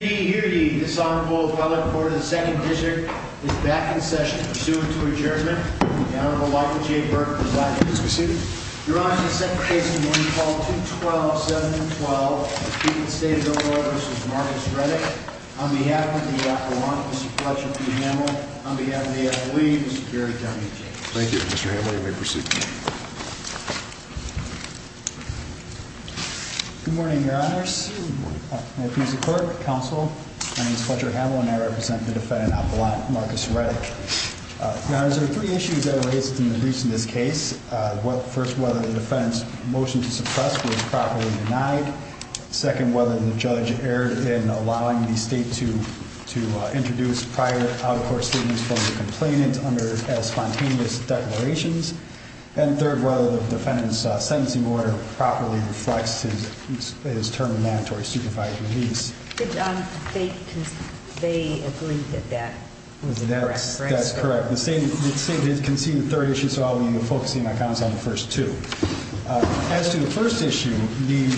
Hearing this honorable fellow reporter of the 2nd district is back in session. Pursuant to adjournment, the Honorable Michael J. Burke presides. Please be seated. Your Honor, the second case in the morning, called 212-712, the Chief of State of Illinois v. Marcus Reddick. On behalf of the appellant, Mr. Fletcher P. Hamill. On behalf of the FOE, Mr. Gary W. James. Thank you, Mr. Hamill. You may proceed. Good morning, Your Honors. Good morning. Counsel, my name is Fletcher Hamill. And I represent the defendant appellant, Marcus Reddick. Your Honors, there are three issues that were raised in the briefs in this case. First, whether the defendant's motion to suppress was properly denied. Second, whether the judge erred in allowing the state to introduce prior out-of-court statements from the complainant as spontaneous declarations. And third, whether the defendant's sentencing order properly reflects his term of mandatory supervised release. They agreed that that was the correct phrase. That's correct. The state has conceded the third issue, so I'll be focusing my comments on the first two. As to the first issue, the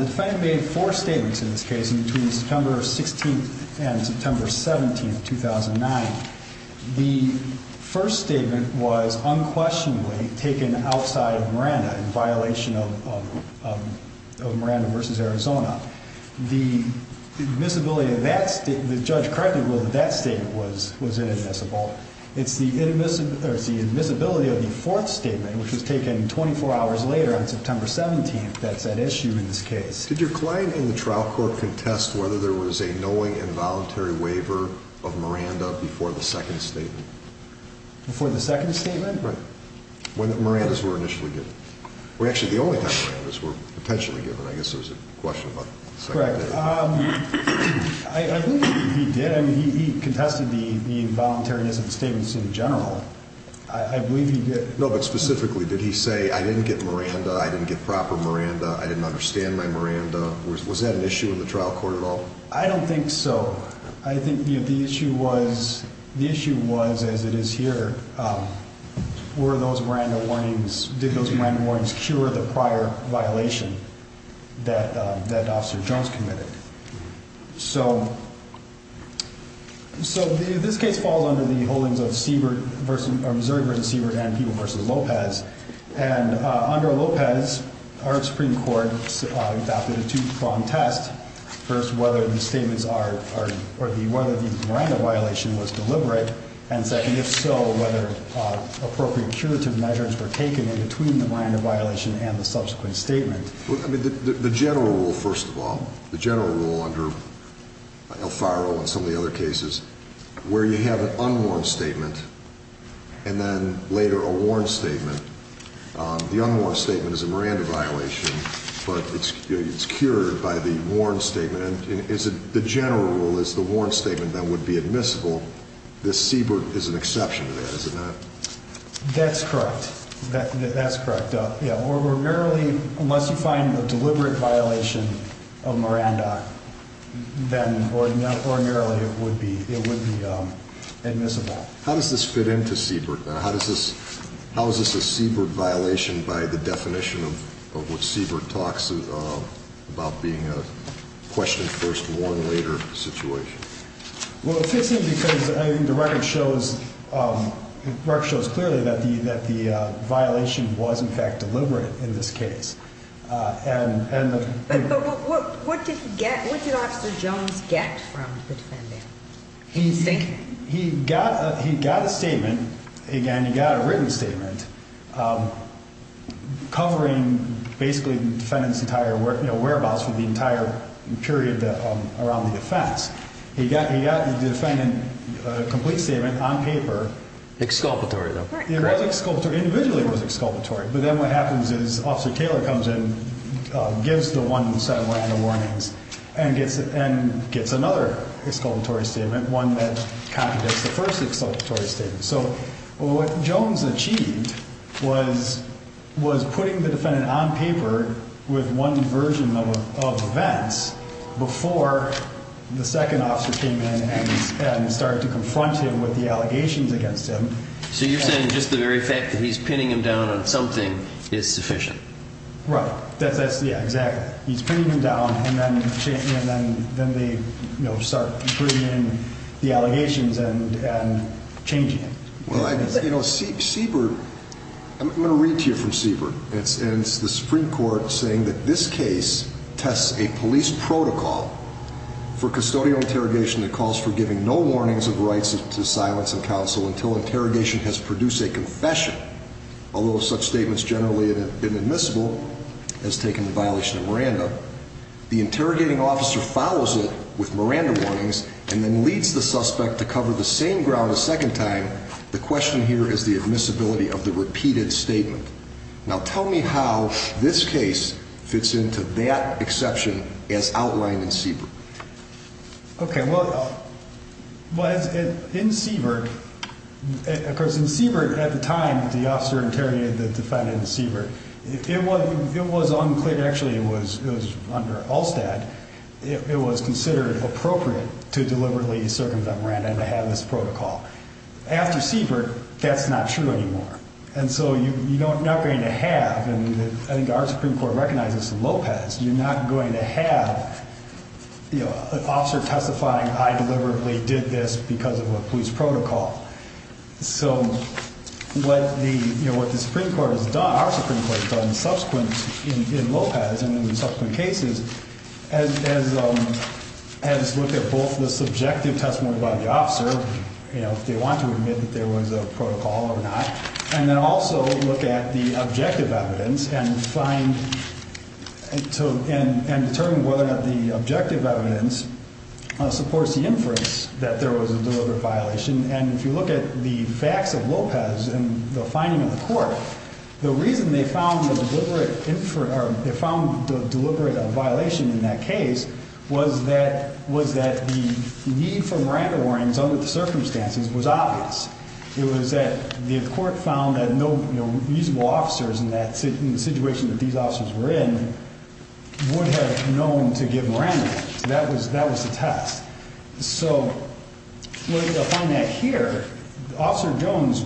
defendant made four statements in this case in between September 16th and September 17th, 2009. The first statement was unquestionably taken outside of Miranda in violation of Miranda v. Arizona. The admissibility of that statement, the judge correctly ruled that that statement was inadmissible. It's the admissibility of the fourth statement, which was taken 24 hours later on September 17th, that's that issue in this case. Did your client and the trial court contest whether there was a knowing involuntary waiver of Miranda before the second statement? Before the second statement? Right, when the Mirandas were initially given. Well, actually, the only time Mirandas were potentially given. I guess there was a question about the second statement. Correct. I believe he did. I mean, he contested the involuntariness of the statements in general. I believe he did. No, but specifically, did he say, I didn't get Miranda, I didn't get proper Miranda, I didn't understand my Miranda? Was that an issue in the trial court at all? I don't think so. I think the issue was, as it is here, were those Miranda warnings, did those Miranda warnings cure the prior violation that Officer Jones committed? So this case falls under the holdings of Missouri v. Siebert and Peeble v. Lopez. And under Lopez, our Supreme Court adopted a two-pronged test. First, whether the statements are, or whether the Miranda violation was deliberate. And second, if so, whether appropriate curative measures were taken in between the Miranda violation and the subsequent statement. I mean, the general rule, first of all, the general rule under Alfaro and some of the other cases, where you have an unwarned statement, and then later a warned statement. The unwarned statement is a Miranda violation, but it's cured by the warned statement. And the general rule is the warned statement then would be admissible. This Siebert is an exception to that, is it not? That's correct. That's correct. Yeah, or merely, unless you find a deliberate violation of Miranda, then, or merely, it would be admissible. How does this fit into Siebert? How is this a Siebert violation by the definition of what Siebert talks about being a question first, warn later situation? Well, it fits in because the record shows clearly that the violation was, in fact, deliberate in this case. But what did he get, what did Officer Jones get from the defendant? He got a statement, again, he got a written statement covering basically the defendant's entire whereabouts for the entire period around the offense. He got the defendant a complete statement on paper. Exculpatory. It was exculpatory, individually it was exculpatory. But then what happens is Officer Taylor comes in, gives the one set of Miranda warnings, and gets another exculpatory statement, one that contradicts the first exculpatory statement. So what Jones achieved was putting the defendant on paper with one version of events before the second officer came in and started to confront him with the allegations against him. So you're saying just the very fact that he's pinning him down on something is sufficient? Right. That's, yeah, exactly. He's pinning him down, and then they start bringing in the allegations and changing it. Well, Siebert, I'm going to read to you from Siebert. It's the Supreme Court saying that this case tests a police protocol for custodial interrogation that calls for giving no warnings of rights to silence of counsel until interrogation has produced a confession. Although such statements generally have been admissible, has taken the violation of Miranda, the interrogating officer follows it with Miranda warnings and then leads the suspect to cover the same ground a second time. The question here is the admissibility of the repeated statement. Now, tell me how this case fits into that exception as outlined in Siebert. OK. Well, in Siebert, of course, in Siebert, at the time the officer interrogated the defendant in Siebert, it was unclear. Actually, it was under Allstat. It was considered appropriate to deliberately circumvent Miranda and to have this protocol. After Siebert, that's not true anymore. And so you're not going to have, and I think our Supreme Court recognizes in Lopez, you're not going to have an officer testifying, I deliberately did this because of a police protocol. So what the Supreme Court has done, our Supreme Court has done in subsequent, in Lopez and in subsequent cases, has looked at both the subjective testimony by the officer, if they want to admit that there was a protocol or not, and then also look at the objective evidence and determine whether or not the objective evidence supports the inference that there was a deliberate violation. And if you look at the facts of Lopez and the finding of the court, the reason they found the deliberate violation in that case was that the need for Miranda warrants under the circumstances was obvious. It was that the court found that no usable officers in the situation that these officers were in would have known to give Miranda warrants. That was the test. So what you'll find out here, Officer Jones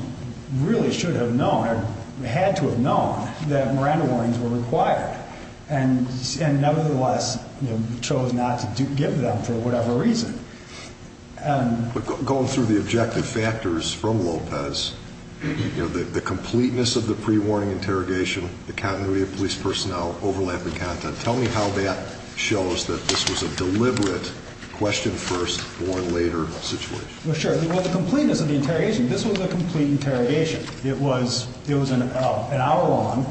really should have known or had to have known that Miranda warrants were required and nevertheless chose not to give them for whatever reason. But going through the objective factors from Lopez, you know, the completeness of the pre-warning interrogation, the continuity of police personnel, overlapping content, tell me how that shows that this was a deliberate question first or later situation. Well, sure. Well, the completeness of the interrogation, this was a complete interrogation. It was, it was an hour long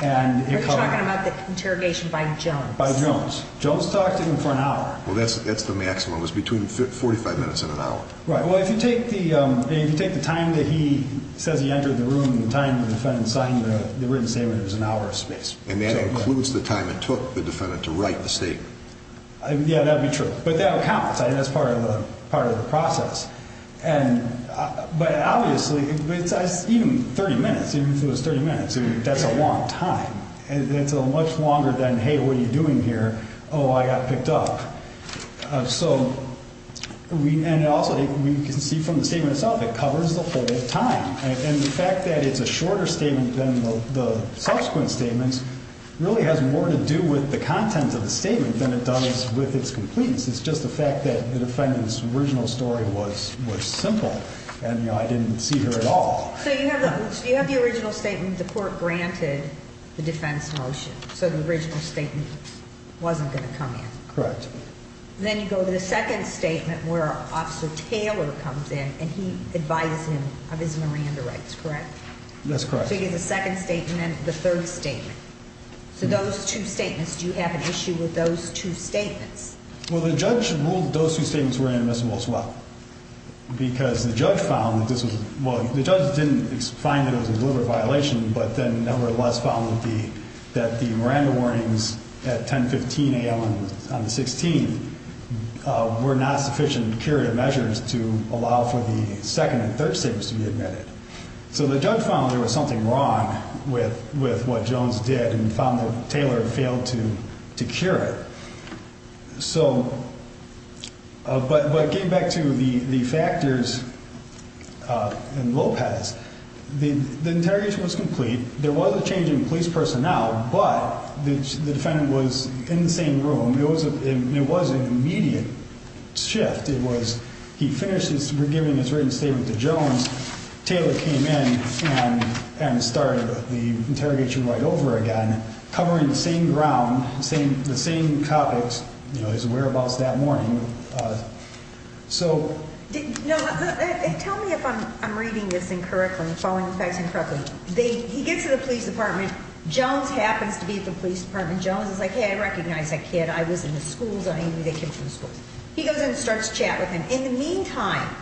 and- We're talking about the interrogation by Jones. By Jones. Jones talked to him for an hour. Well, that's the maximum. It was between 45 minutes and an hour. Right. Well, if you take the, if you take the time that he says he entered the room, the time the defendant signed the written statement, it was an hour of space. And that includes the time it took the defendant to write the statement. Yeah, that'd be true. But that'll count. I think that's part of the process. And, but obviously, even 30 minutes, even if it was 30 minutes, that's a long time. And it's a much longer than, hey, what are you doing here? Oh, I got picked up. So we, and also we can see from the statement itself, it covers the whole time. And the fact that it's a shorter statement than the subsequent statements really has more to do with the content of the statement than it does with its completeness. It's just the fact that the defendant's original story was, was simple. And, you know, I didn't see her at all. So you have the, you have the original statement, the court granted the defense motion. So the original statement wasn't going to come in. Correct. Then you go to the second statement where Officer Taylor comes in and he advises him of his Miranda rights, correct? That's correct. So you get the second statement, the third statement. So those two statements, do you have an issue with those two statements? Well, the judge ruled those two statements were inadmissible as well. Because the judge found that this was, well, the judge didn't find it as a deliberate violation, but then nevertheless found that the, that the Miranda warnings at 10, 15 a.m. on the 16th were not sufficient curative measures to allow for the second and third statements to be admitted. So the judge found there was something wrong with, with what Jones did and found that Taylor failed to, to cure it. So, but, but getting back to the, the factors in Lopez, the interrogation was complete. There was a change in police personnel, but the defendant was in the same room. It was a, it was an immediate shift. It was, he finished his, we're giving his written statement to Jones. Taylor came in and, and started the interrogation right over again, covering the same ground, same, the same topics, you know, his whereabouts that morning. So. No, tell me if I'm, I'm reading this incorrectly, following the facts incorrectly. They, he gets to the police department, Jones happens to be at the police department. Jones is like, hey, I recognize that kid. I was in the schools. I knew they came from the schools. He goes in and starts to chat with him. In the meantime,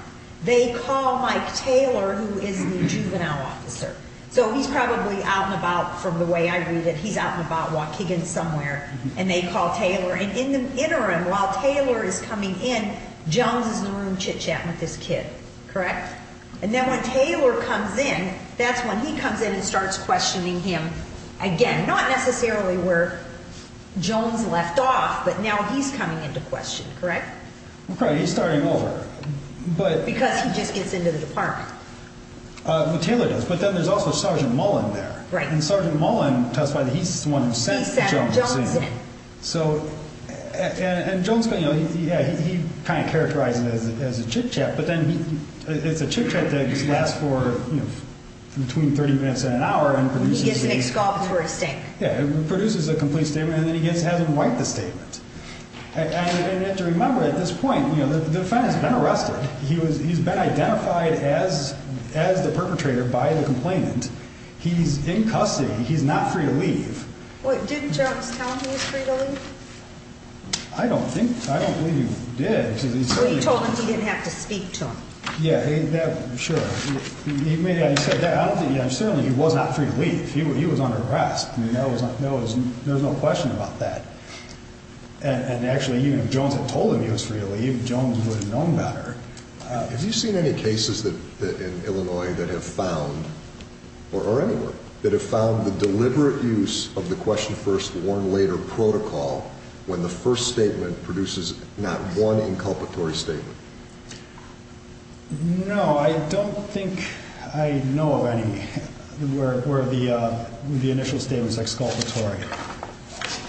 they call Mike Taylor, who is the juvenile officer. So he's probably out and about from the way I read it. He's out and about walking in somewhere and they call Taylor. And in the interim, while Taylor is coming in, Jones is in the room chit-chatting with this kid. Correct? And then when Taylor comes in, that's when he comes in and starts questioning him again, not necessarily where Jones left off, but now he's coming into question. Correct? Okay, he's starting over, but. Because he just gets into the department. What Taylor does. But then there's also Sergeant Mullen there. Right. And Sergeant Mullen testified that he's the one who sent Jones in. So, and Jones, you know, he kind of characterized it as a chit-chat, but then it's a chit-chat that lasts for, you know, between 30 minutes and an hour. And he gets a big scoff for his statement. Yeah, he produces a complete statement and then he gets to have him write the statement. And you have to remember at this point, you know, the defendant's been arrested. He's been identified as the perpetrator by the complainant. He's in custody. He's not free to leave. Wait, didn't Jones tell him he was free to leave? I don't think, I don't believe he did. Well, he told him he didn't have to speak to him. Yeah, sure. He may have said that. I don't think, yeah, certainly he was not free to leave. He was under arrest. I mean, there was no question about that. And actually, even if Jones had told him he was free to leave, Jones would have known better. Have you seen any cases in Illinois that have found, or anywhere, that have found the deliberate use of the question first, warn later protocol when the first statement produces not one inculpatory statement? No, I don't think I know of any where the initial statement is exculpatory.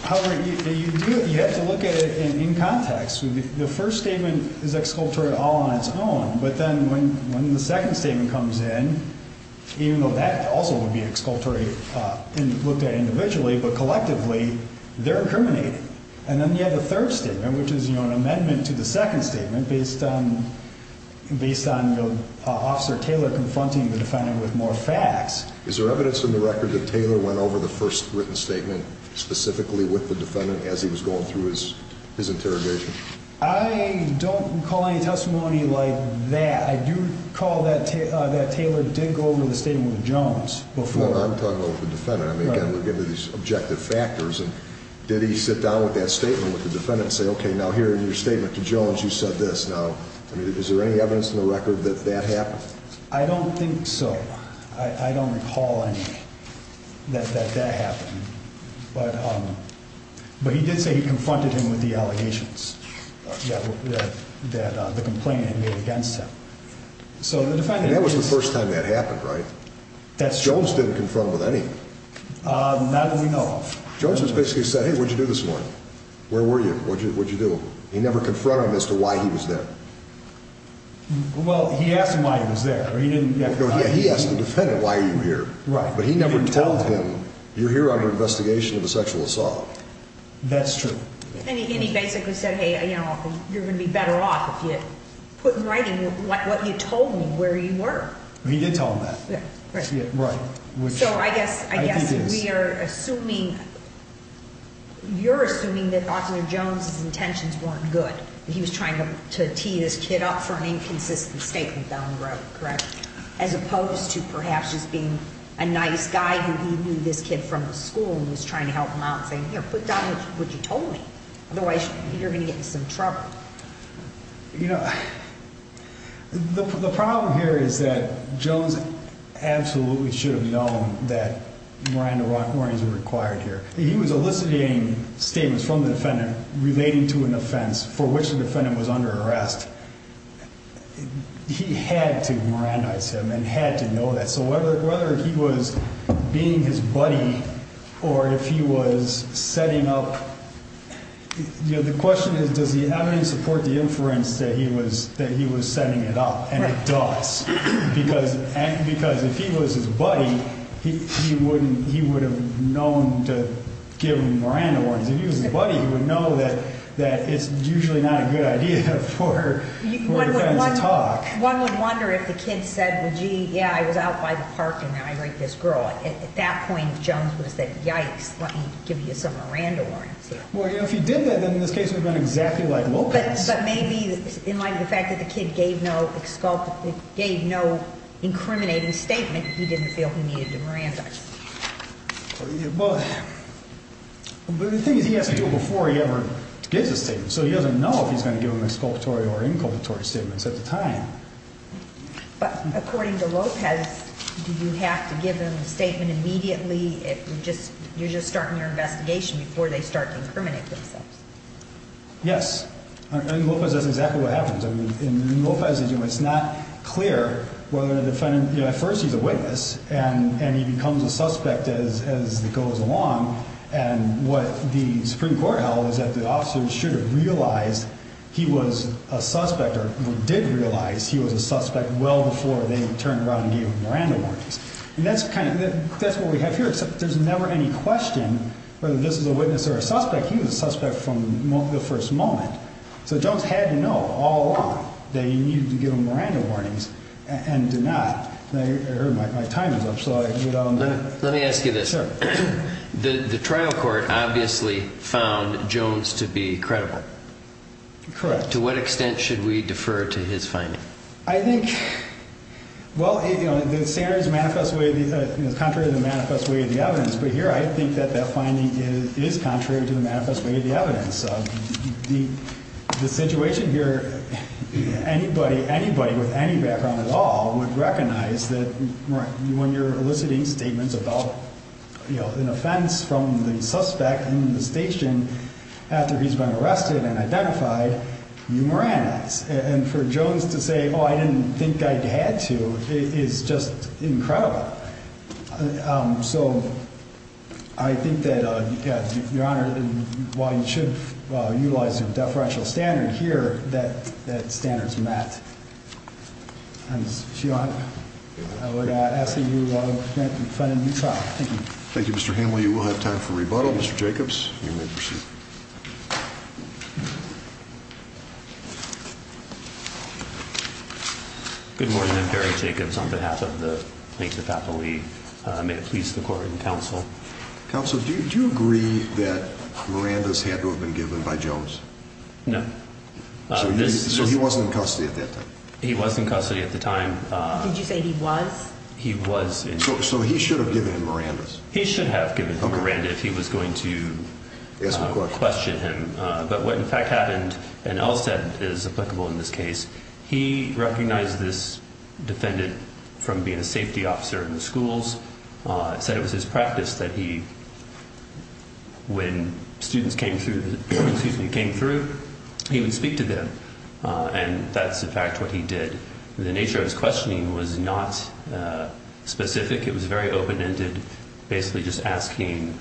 However, you do, you have to look at it in context. The first statement is exculpatory all on its own. But then when the second statement comes in, even though that also would be exculpatory and looked at individually, but collectively, they're incriminating. And then you have the third statement, which is, you know, an amendment to the second statement based on Officer Taylor confronting the defendant with more facts. Is there evidence in the record that Taylor went over the first written statement specifically with the defendant as he was going through his interrogation? I don't recall any testimony like that. I do recall that Taylor did go over the statement with Jones before. No, I'm talking about the defendant. I mean, again, we're getting to these objective factors. And did he sit down with that statement with the defendant and say, okay, now here in your statement to Jones, you said this. Now, I mean, is there any evidence in the record that that happened? I don't think so. I don't recall any, that that happened. But he did say he confronted him with the allegations that the complainant made against him. So the defendant- That was the first time that happened, right? That's true. Jones didn't confront him with anything. Not that we know of. Jones just basically said, hey, what'd you do this morning? Where were you? What'd you do? He never confronted him as to why he was there. Well, he asked him why he was there. Or he didn't- No, he asked the defendant, why are you here? Right. But he never told him, you're here under investigation of a sexual assault. That's true. And he basically said, hey, you know, you're going to be better off if you put in writing what you told me where you were. He did tell him that. Yeah, right. So I guess we are assuming, you're assuming that Officer Jones's intentions weren't good. He was trying to tee this kid up for an inconsistent statement down the road, correct? As opposed to perhaps just being a nice guy who he knew this kid from the school and he was trying to help him out and saying, here, put down what you told me. Otherwise, you're going to get in some trouble. You know, the problem here is that Jones absolutely should have known that Miranda Rockmore is a required suspect. He was eliciting statements from the defendant relating to an offense for which the defendant was under arrest. He had to Mirandize him and had to know that. So whether he was being his buddy or if he was setting up, the question is, does he have any support to inference that he was setting it up? And it does. Because if he was his buddy, he wouldn't, he would have known to give him Miranda warnings. If he was his buddy, he would know that it's usually not a good idea for a defendant to talk. One would wonder if the kid said, well, gee, yeah, I was out by the park and I raped this girl. At that point, Jones would have said, yikes, let me give you some Miranda warnings. Well, if he did that, then in this case, it would have been exactly like Lopez. But maybe in light of the fact that the kid gave no incriminating statement, he didn't feel he needed to Mirandize. Well, but the thing is, he has to do it before he ever gives a statement. So he doesn't know if he's going to give him exculpatory or inculpatory statements at the time. But according to Lopez, do you have to give him a statement immediately if you're just starting your investigation before they start to incriminate themselves? Yes, and Lopez does exactly what happens. I mean, in Lopez's case, it's not clear whether the defendant, at first he's a witness and he becomes a suspect as it goes along. And what the Supreme Court held is that the officers should have realized he was a suspect or did realize he was a suspect well before they turned around and gave him Miranda warnings. And that's kind of, that's what we have here. Except there's never any question whether this is a witness or a suspect. He was a suspect from the first moment. So Jones had to know all along that he needed to give him Miranda warnings and did not. I heard my time is up. So let me ask you this. The trial court obviously found Jones to be credible. Correct. To what extent should we defer to his finding? I think, well, you know, the standards manifest way, contrary to the manifest way of the evidence. But here, I think that that finding is contrary to the manifest way of the evidence. So the situation here, anybody, anybody with any background at all would recognize that when you're eliciting statements about, you know, an offense from the suspect in the station after he's been arrested and identified, you Miranda's. And for Jones to say, oh, I didn't think I had to is just incredible. So I think that, Your Honor, while you should utilize a deferential standard here, that that standard's met. And, Your Honor, I would ask that you allow him to present in front of the new trial. Thank you. Thank you, Mr. Hanley. We'll have time for rebuttal. Mr. Jacobs, you may proceed. Good morning. I'm Barry Jacobs on behalf of the Plaintiff Faculty. May it please the court and counsel. Counsel, do you agree that Miranda's had to have been given by Jones? No. So he wasn't in custody at that time? He was in custody at the time. Did you say he was? He was. So he should have given him Miranda's? He should have given him Miranda's if he was going to question him. But what, in fact, happened, and Elstad is applicable in this case, he recognized this defendant from being a safety officer in the schools, said it was his practice that he, when students came through, he would speak to them. And that's, in fact, what he did. The nature of his questioning was not specific. It was very open-ended, basically just asking,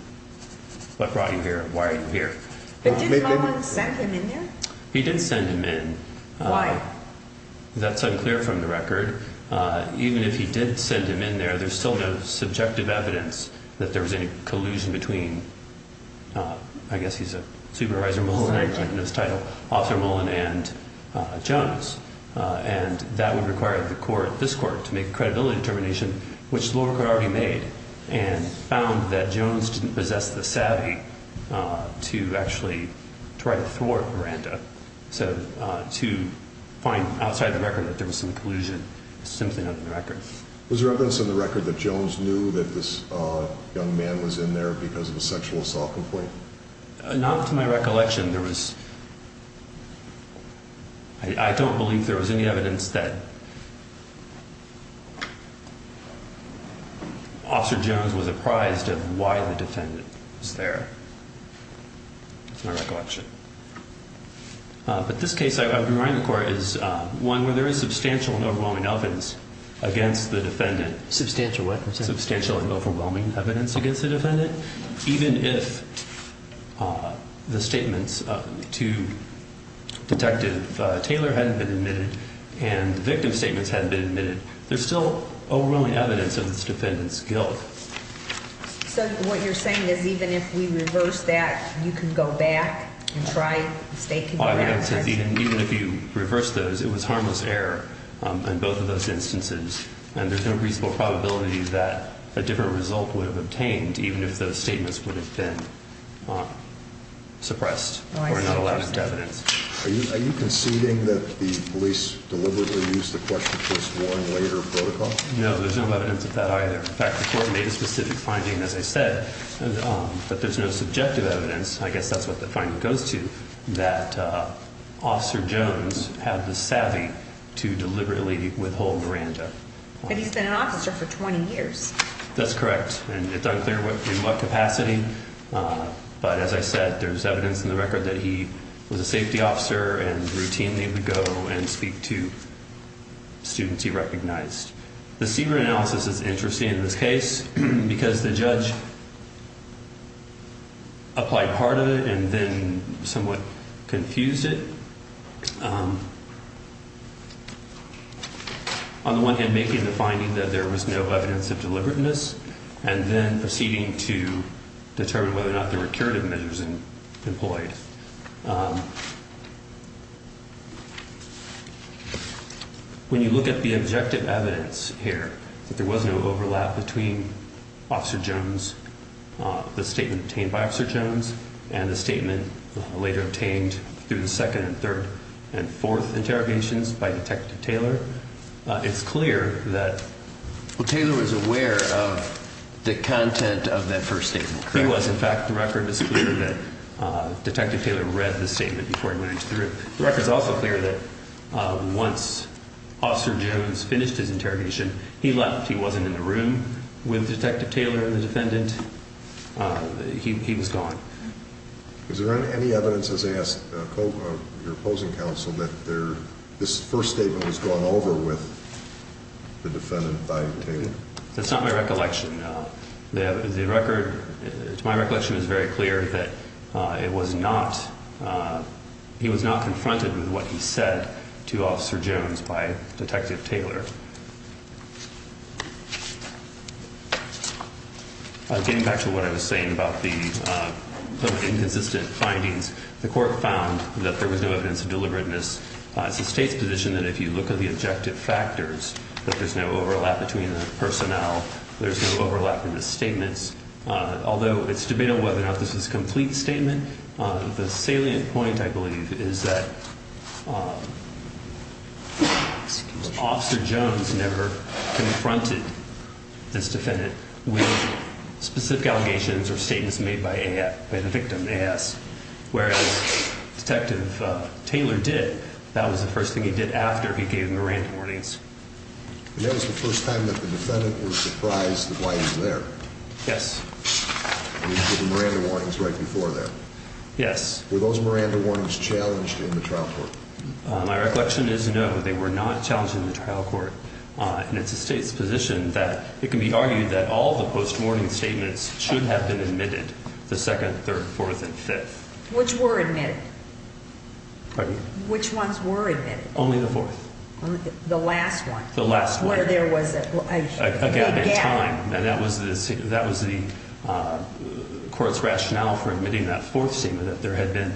what brought you here? Why are you here? But did someone send him in there? He did send him in. Why? That's unclear from the record. Even if he did send him in there, there's still no subjective evidence that there was any collusion. There's no collusion between, I guess he's a supervisor, Mullen, I know his title, Officer Mullen and Jones. And that would require the court, this court, to make a credibility determination, which the lower court already made, and found that Jones didn't possess the savvy to actually try to thwart Miranda. So to find outside the record that there was some collusion is simply not in the record. Was there evidence in the record that Jones knew that this young man was in there because of a sexual assault complaint? Not to my recollection, there was... I don't believe there was any evidence that Officer Jones was apprised of why the defendant was there. That's my recollection. But this case, I would remind the court, is one where there is substantial and overwhelming evidence against the defendant. Substantial what? Substantial and overwhelming evidence against the defendant. Even if the statements to Detective Taylor hadn't been admitted and the victim's statements hadn't been admitted, there's still overwhelming evidence of this defendant's guilt. So what you're saying is even if we reverse that, you can go back and try mistaking... I would say even if you reverse those, it was harmless error in both of those instances. And there's no reasonable probability that a different result would have obtained even if those statements would have been suppressed or not allowed into evidence. Are you conceding that the police deliberately used the question to explore a later protocol? No, there's no evidence of that either. In fact, the court made a specific finding, as I said, but there's no subjective evidence. I guess that's what the finding goes to, that Officer Jones had the savvy to deliberately withhold Miranda. But he's been an officer for 20 years. That's correct. And it's unclear in what capacity, but as I said, there's evidence in the record that he was a safety officer and routinely would go and speak to students he recognized. The Seabrook analysis is interesting in this case because the judge applied part of it and then somewhat confused it. On the one hand, making the finding that there was no evidence of deliberateness and then proceeding to determine whether or not there were curative measures employed. When you look at the objective evidence here, that there was no overlap between Officer Jones, the statement obtained by Officer Jones and the statement later obtained through the second and third and fourth interrogations by Detective Taylor, it's clear that... Well, Taylor was aware of the content of that first statement. He was. In fact, the record is clear that Detective Taylor read the statement before he went into the room. The record is also clear that once Officer Jones finished his interrogation, he left. He wasn't in the room with Detective Taylor and the defendant. He was gone. Is there any evidence, as I asked your opposing counsel, this first statement was gone over with the defendant by Taylor? That's not my recollection. My recollection is very clear that he was not confronted with what he said to Officer Jones by Detective Taylor. Getting back to what I was saying about the inconsistent findings, the court found that there was no evidence of deliberateness. It's the state's position that if you look at the objective factors, that there's no overlap between the personnel, there's no overlap in the statements. Although it's debatable whether or not this is a complete statement, the salient point, I believe, is that Officer Jones never confronted this defendant with specific allegations or statements made by the victim, AS, whereas Detective Taylor did. That was the first thing he did after he gave Miranda warnings. And that was the first time that the defendant was surprised that why he was there? Yes. And he gave the Miranda warnings right before that? Yes. Were those Miranda warnings challenged in the trial court? My recollection is, no, they were not challenged in the trial court. And it's the state's position that it can be argued that all the post-warning statements should have been admitted the 2nd, 3rd, 4th, and 5th. Which were admitted? Pardon? Which ones were admitted? Only the 4th. The last one? The last one. Where there was a gap. And that was the court's rationale for admitting that 4th statement, that there had been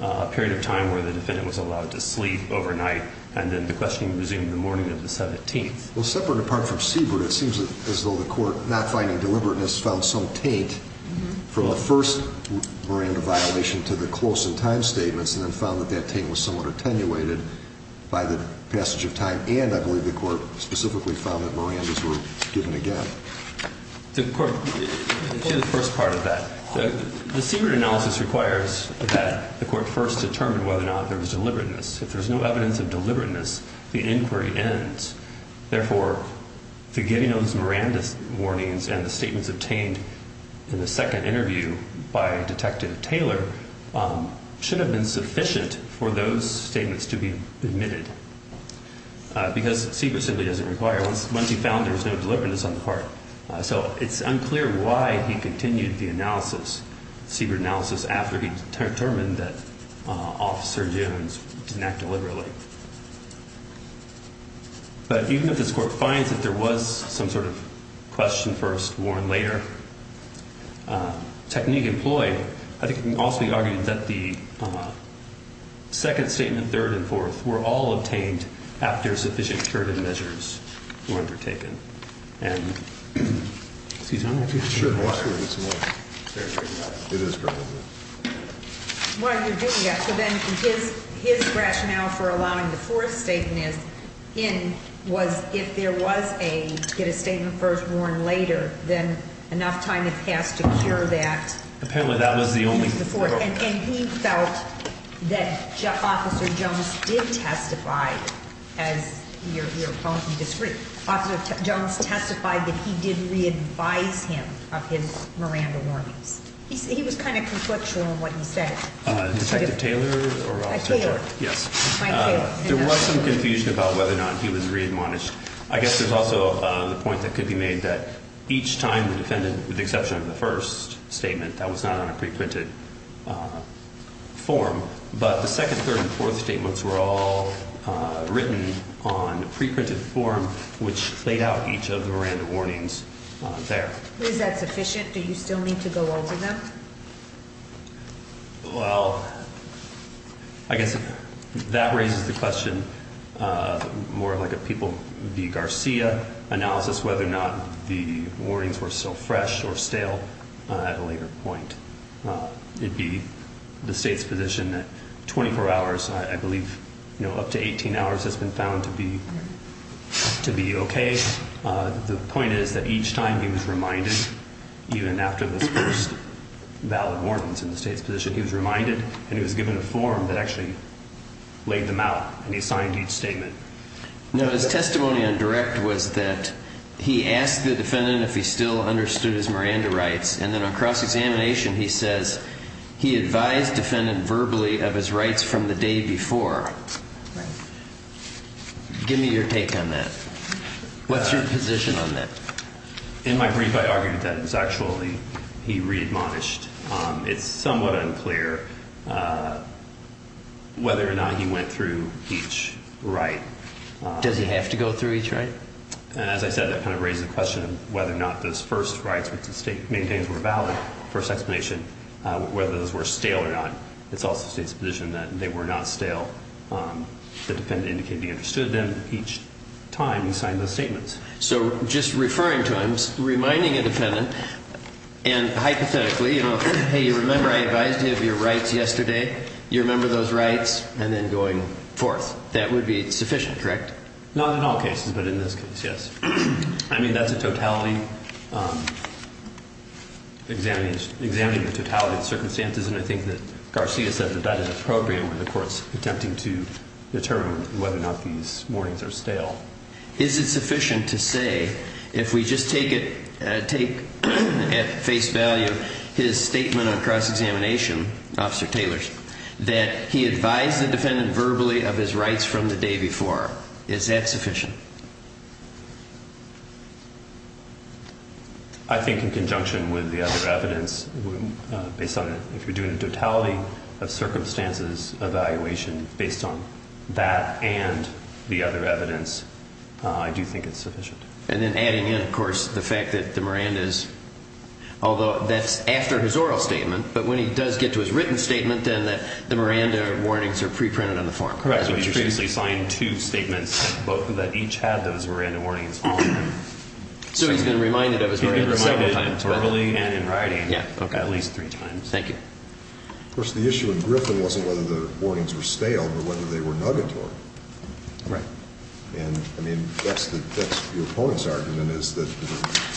a period of time where the defendant was allowed to sleep overnight. And then the questioning resumed the morning of the 17th. Well, separate apart from Siebert, it seems as though the court, not finding deliberateness, found some taint from the first Miranda violation to the close-in-time statements. And then found that that taint was somewhat attenuated by the passage of time. And I believe the court specifically found that Mirandas were given again. The court did the first part of that. The Siebert analysis requires that the court first determine whether or not there was deliberateness. If there's no evidence of deliberateness, the inquiry ends. Therefore, the getting of those Miranda warnings and the statements obtained in the second interview by Detective Taylor should have been sufficient for those statements to be admitted. Because Siebert simply doesn't require it. Once he found there was no deliberateness on the part. So it's unclear why he continued the analysis, Siebert analysis, after he determined that Officer Jones didn't act deliberately. But even if this court finds that there was some sort of question first, warn later technique employed, I think it can also be argued that the second statement, third and fourth, were all obtained after sufficient curative measures were undertaken. And excuse me. I'm not sure if it's more. It is probably more. What are you doing? Yeah, so then his rationale for allowing the fourth statement in was if there was a get a statement first, warn later, then enough time has passed to cure that. Apparently, that was the only before and he felt that Officer Jones did testify as your opponent discreet. Officer Jones testified that he did re-advise him of his Miranda warnings. He was kind of conflictual in what he said. Detective Taylor. Yes. There was some confusion about whether or not he was readmonished. I guess there's also the point that could be made that each time the defendant, with the exception of the first statement that was not on a preprinted form, but the second, third and fourth statements were all written on preprinted form, which laid out each of the Miranda warnings there. Is that sufficient? Do you still need to go over them? Well, I guess that raises the question more like a people the Garcia analysis, whether or not the warnings were so fresh or stale at a later point. It'd be the state's position that 24 hours, I believe, you know, up to 18 hours has been found to be to be okay. The point is that each time he was reminded, even after this first valid warrants in the state's position, he was reminded and he was given a form that actually laid them out and he signed each statement. No, his testimony on direct was that he asked the defendant if he still understood his Miranda rights. And then on cross-examination, he says he advised defendant verbally of his rights from the day before. Give me your take on that. What's your position on that? In my brief, I argued that it was actually he readmonished. It's somewhat unclear whether or not he went through each right. Does he have to go through each right? And as I said, that kind of raises the question of whether or not those first rights with the state main things were valid. First explanation, whether those were stale or not. It's also state's position that they were not stale. The defendant indicated he understood them. Each time he signed those statements. So just referring to him, reminding a defendant and hypothetically, you know, Hey, you remember, I advised you of your rights yesterday. You remember those rights and then going forth. That would be sufficient, correct? Not in all cases, but in this case, yes. I mean, that's a totality. Examines examining the totality of circumstances, and I think that Garcia said that that is appropriate with the courts attempting to determine whether or not these warnings are stale. Is it sufficient to say if we just take it, take at face value his statement on cross-examination officer Taylors that he advised the defendant verbally of his rights from the day before. Is that sufficient? I think in conjunction with the other evidence based on if you're doing a totality of circumstances evaluation based on that and the other evidence, I do think it's sufficient. And then adding in, of course, the fact that the Miranda's, although that's after his oral statement, but when he does get to his written statement, then that the Miranda warnings are pre-printed on the form. Correct. So you previously signed two statements, both of that, each had those Miranda warnings. So he's been reminded that it was reminded verbally and in writing. Yeah. Okay. At least three times. Thank you. Of course, the issue in Griffin wasn't whether the warnings were stale, but whether they were nuggetory. Right. And I mean, that's the, that's the opponent's argument is that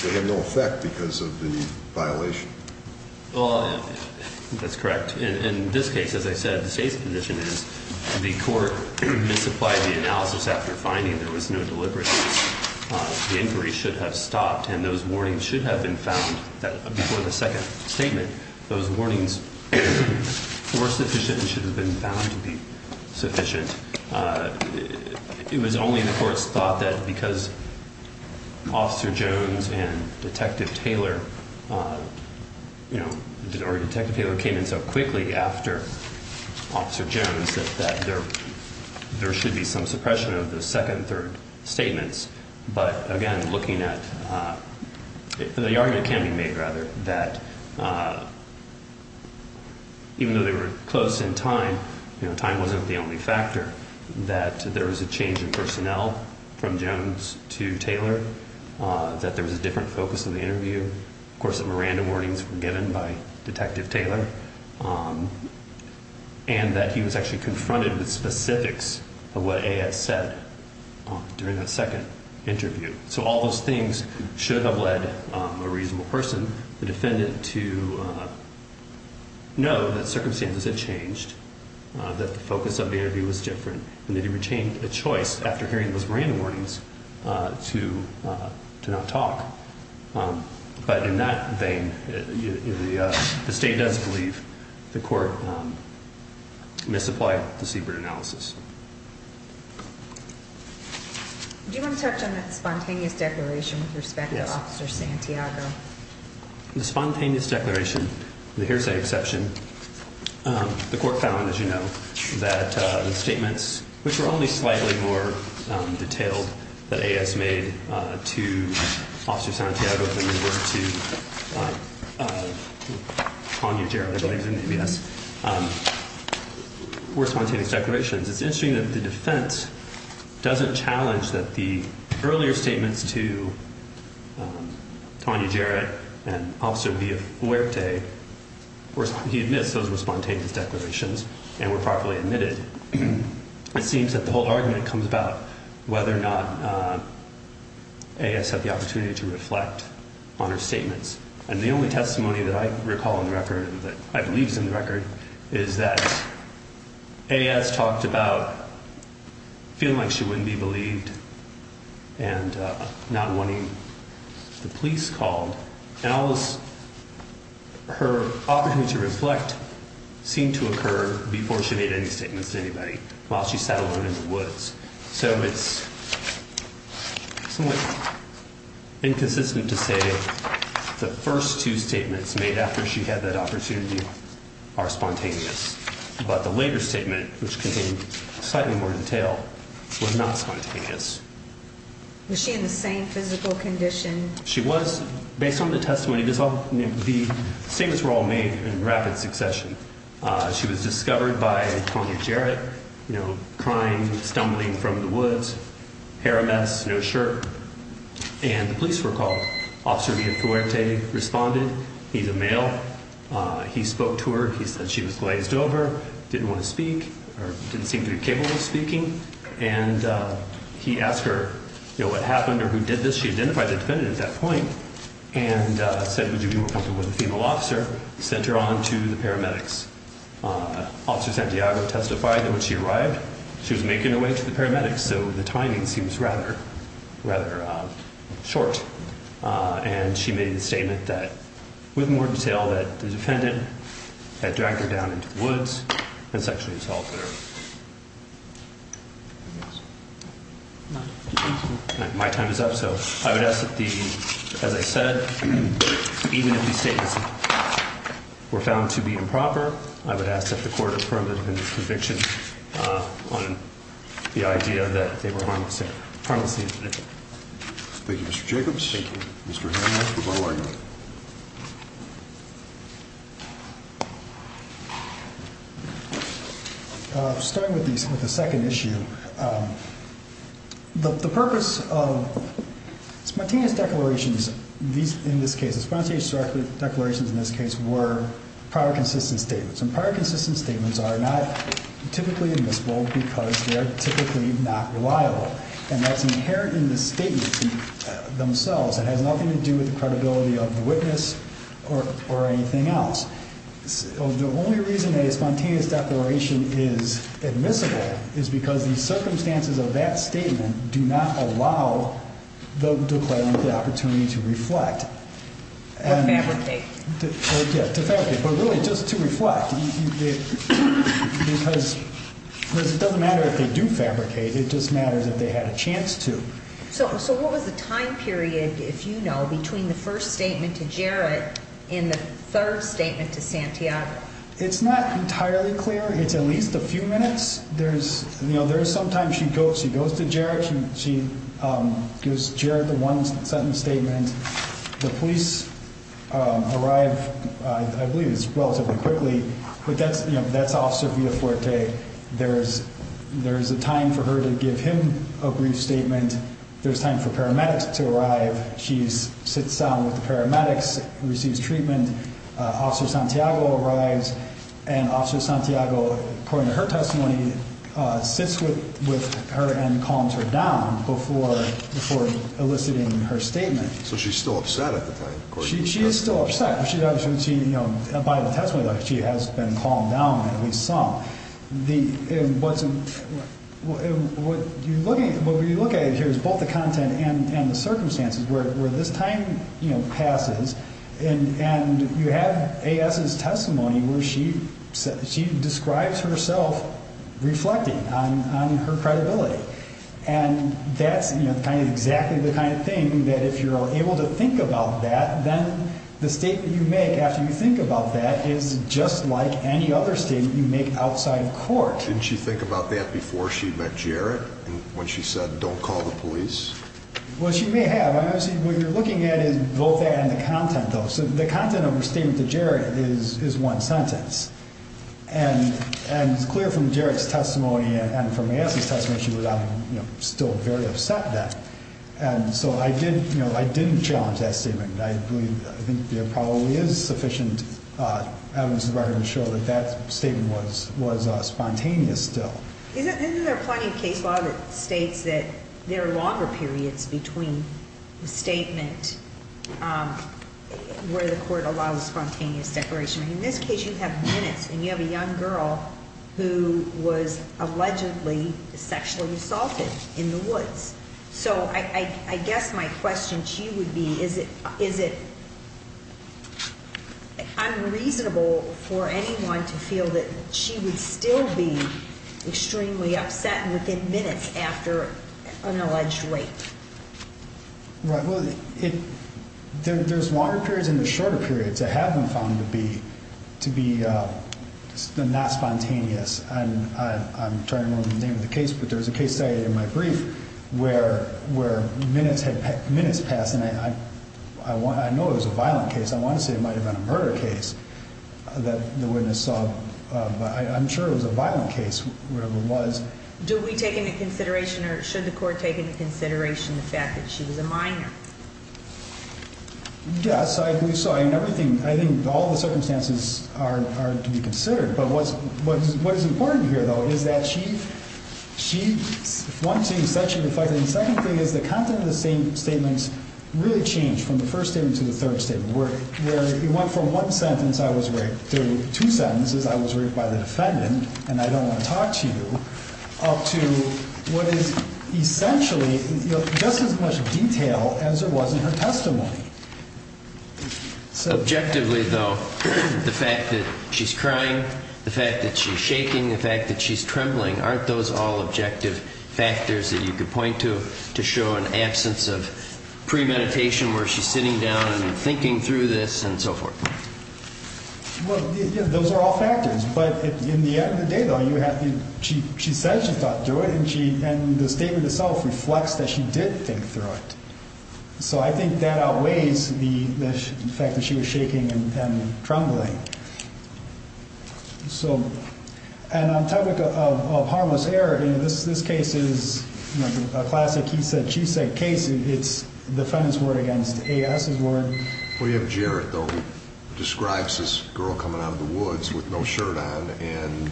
they have no effect because of the violation. Well, that's correct. In this case, as I said, the state's position is the court misapplied the analysis after finding there was no deliberate. The inquiry should have stopped and those warnings should have been found that before the second statement, those warnings were sufficient and should have been found to be sufficient. It was only the court's thought that because Officer Jones and Detective Taylor, you know, or Detective Taylor came in so quickly after Officer Jones, that there, there should be some suppression of the second, third statements. But again, looking at the argument can be made, rather, that even though they were close in time, you know, time wasn't the only factor that there was a change in personnel from Jones to Taylor, that there was a different focus of the interview. Of course, the Miranda warnings were given by Detective Taylor and that he was actually confronted with specifics of what A.S. said during that second interview. So all those things should have led a reasonable person, the defendant, to know that circumstances had changed, that the focus of the interview was different, and that he retained a choice after hearing those Miranda warnings to not talk. But in that vein, the state does believe the court misapplied the Siebert analysis. Do you want to touch on that spontaneous declaration with respect to Officer Santiago? The spontaneous declaration, the hearsay exception, the court found, as you know, that the statements, which were only slightly more detailed that A.S. made to Officer Santiago than they were to Tanya Jarrett, I believe, in the ABS, were spontaneous declarations. It's interesting that the defense doesn't challenge that the earlier statements to Tanya Jarrett and Officer Villafuerte, he admits those were spontaneous and were properly admitted. It seems that the whole argument comes about whether or not A.S. had the opportunity to reflect on her statements. And the only testimony that I recall in the record, that I believe is in the record, is that A.S. talked about feeling like she wouldn't be believed and not wanting the police called. And all this, her opportunity to reflect seemed to occur before she made any statements to anybody while she sat alone in the woods. So it's somewhat inconsistent to say the first two statements made after she had that opportunity are spontaneous. But the later statement, which contained slightly more detail, was not spontaneous. Was she in the same physical condition? She was. Based on the testimony, the statements were all made in rapid succession. She was discovered by Tanya Jarrett, you know, crying, stumbling from the woods, hair a mess, no shirt. And the police were called. Officer Villafuerte responded. He's a male. He spoke to her. He said she was glazed over, didn't want to speak or didn't seem to be capable of speaking. And he asked her, you know, what happened or who did this? She identified the defendant at that point and said, would you be more comfortable with a female officer? Sent her on to the paramedics. Officer Santiago testified that when she arrived, she was making her way to the paramedics. So the timing seems rather, rather short. And she made the statement that with more detail that the defendant had dragged her down into the woods and sexually assaulted her. My time is up. So I would ask that the, as I said, even if these statements were found to be improper, I would ask that the court affirm the defendant's conviction on the idea that they were harmless to the defendant. Thank you, Mr. Jacobs. Thank you. Mr. Hammond, goodbye. I'll start with the second issue. The purpose of spontaneous declarations, these, in this case, spontaneous declarations in this case were prior consistent statements. And prior consistent statements are not typically admissible because they are typically not reliable. And that's inherent in the statements themselves. It has nothing to do with the credibility of the witness or anything else. The only reason that a spontaneous declaration is admissible is because the circumstances of that statement do not allow the declarant the opportunity to reflect. Or fabricate. Yeah, to fabricate. But really, just to reflect. Because it doesn't matter if they do fabricate. It just matters if they had a chance to. So what was the time period, if you know, between the first statement to Jarrett and the third statement to Santiago? It's not entirely clear. It's at least a few minutes. There's, you know, there's sometimes she goes to Jarrett. She gives Jarrett the one sentence statement. The police arrive, I believe, it's relatively quickly. But that's, you know, that's Officer Villafuerte. There's a time for her to give him a brief statement. There's time for paramedics to arrive. She sits down with the paramedics, receives treatment. Officer Santiago arrives and Officer Santiago, according to her testimony, sits with her and calms her down before eliciting her statement. So she's still upset at the time. She's still upset, but she's obviously, you know, by the testimony, she has been at least some. What you're looking at, what we look at here is both the content and the circumstances where this time, you know, passes and you have A.S.'s testimony where she describes herself reflecting on her credibility. And that's, you know, kind of exactly the kind of thing that if you're able to think about that, then the state that you make after you think about that is just like any other state that you make outside of court. Didn't she think about that before she met Jarrett? When she said, don't call the police? Well, she may have. I mean, obviously, what you're looking at is both that and the content, though. So the content of her statement to Jarrett is one sentence. And it's clear from Jarrett's testimony and from A.S.'s testimony, she was, you know, still very upset then. And so I did, you know, I didn't challenge that statement. I believe, I think there probably is sufficient evidence in the record to show that that statement was spontaneous still. Isn't there plenty of case law that states that there are longer periods between the statement where the court allows spontaneous declaration? In this case, you have minutes and you have a young girl who was allegedly sexually assaulted in the woods. So I guess my question to you would be, is it unreasonable for anyone to feel that she would still be extremely upset within minutes after an alleged rape? Right. Well, there's longer periods and shorter periods that have been found to be not spontaneous. And I'm trying to remember the name of the case, but there was a case that I did in my brief where minutes had passed and I know it was a violent case. I want to say it might have been a murder case that the witness saw, but I'm sure it was a violent case, whatever it was. Do we take into consideration or should the court take into consideration the fact that she was a minor? Yes, I believe so. I mean, everything, I think all the circumstances are to be considered. But what is important here, though, is that she, she, one thing, sexually reflected, and the second thing is the content of the same statements really changed from the first statement to the third statement, where it went from one sentence I was raped to two sentences I was raped by the defendant and I don't want to talk to you, up to what is essentially just as much detail as there was in her testimony. Objectively, though, the fact that she's crying, the fact that she's shaking, the fact that she's trembling, aren't those all objective factors that you could point to to show an absence of premeditation where she's sitting down and thinking through this and so forth? Well, those are all factors, but in the end of the day, though, you have to, she, she says she thought through it and she, and the statement itself reflects that she did think through it. So I think that outweighs the fact that she was shaking and trembling. So, and on topic of harmless error, you know, this, this case is a classic, he said, she said case. It's the defendant's word against A.S.'s word. Well, you have Jarrett, though, who describes this girl coming out of the woods with no shirt on and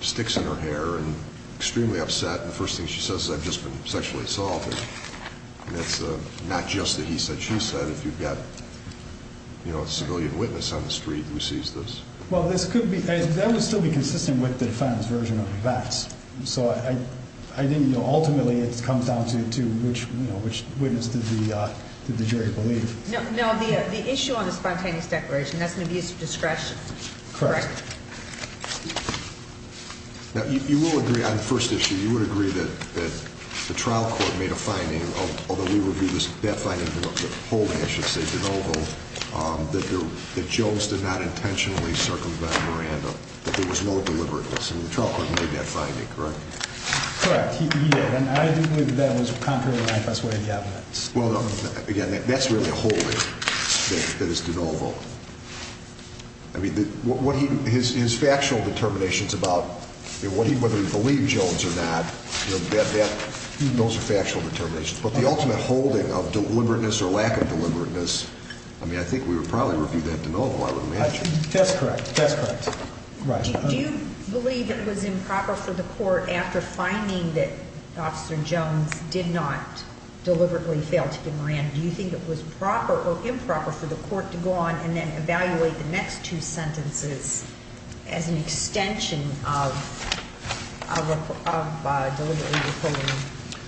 sticks in her hair and extremely upset. And the first thing she says is I've just been sexually assaulted. It's not just that he said, she said, if you've got, you know, a civilian witness on the street who sees this? Well, this could be, that would still be consistent with the defendant's version of the facts. So I, I didn't know, ultimately it comes down to which, you know, which witness did the, did the jury believe? No, the, the issue on the spontaneous declaration, that's an abuse of discretion. Correct. Now you will agree on the first issue, you would agree that, that the trial court made a finding, although we reviewed this, that finding, holding, I should say, DeNovo, that there, that Jones did not intentionally circumvent Miranda, that there was no deliberateness and the trial court made that finding, correct? Correct, he did. And I didn't believe that that was contrary to my first way of getting it. Well, again, that's really a holding that is DeNovo. I mean, what he, his, his factual determinations about what he, whether he believed Jones or not, you know, that, that, those are factual determinations. But the ultimate holding of deliberateness or lack of deliberateness, I mean, I think we would probably review that DeNovo, I would imagine. That's correct. That's correct. Do you believe it was improper for the court, after finding that Officer Jones did not deliberately fail to give Miranda, do you think it was proper or improper for the court to go on and then evaluate the next two sentences as an extension of, of, of deliberately withholding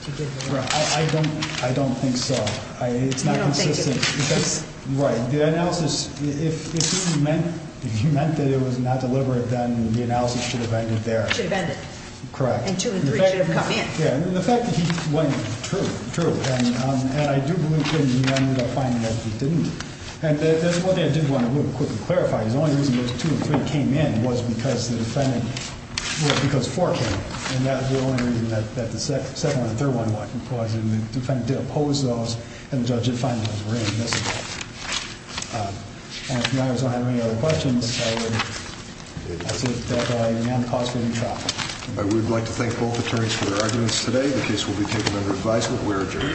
I don't, I don't think so. It's not consistent. Right. The analysis, if he meant, if he meant that it was not deliberate, then the analysis should have ended there. Should have ended. Correct. And two and three should have come in. Yeah. And the fact that he went, true, true. And I do believe that he ended up finding that he didn't. And there's one thing I did want to really quickly clarify. His only reason those two and three came in was because the defendant, because four came in. And that was the only reason that, that the second, the third one, what he caused in the defendant did oppose those. And the judge did find those were inadmissible. And if you guys don't have any other questions, I would, I think that I am causing any trouble. But we'd like to thank both attorneys for their arguments today. The case will be taken under advisement. We're adjourned.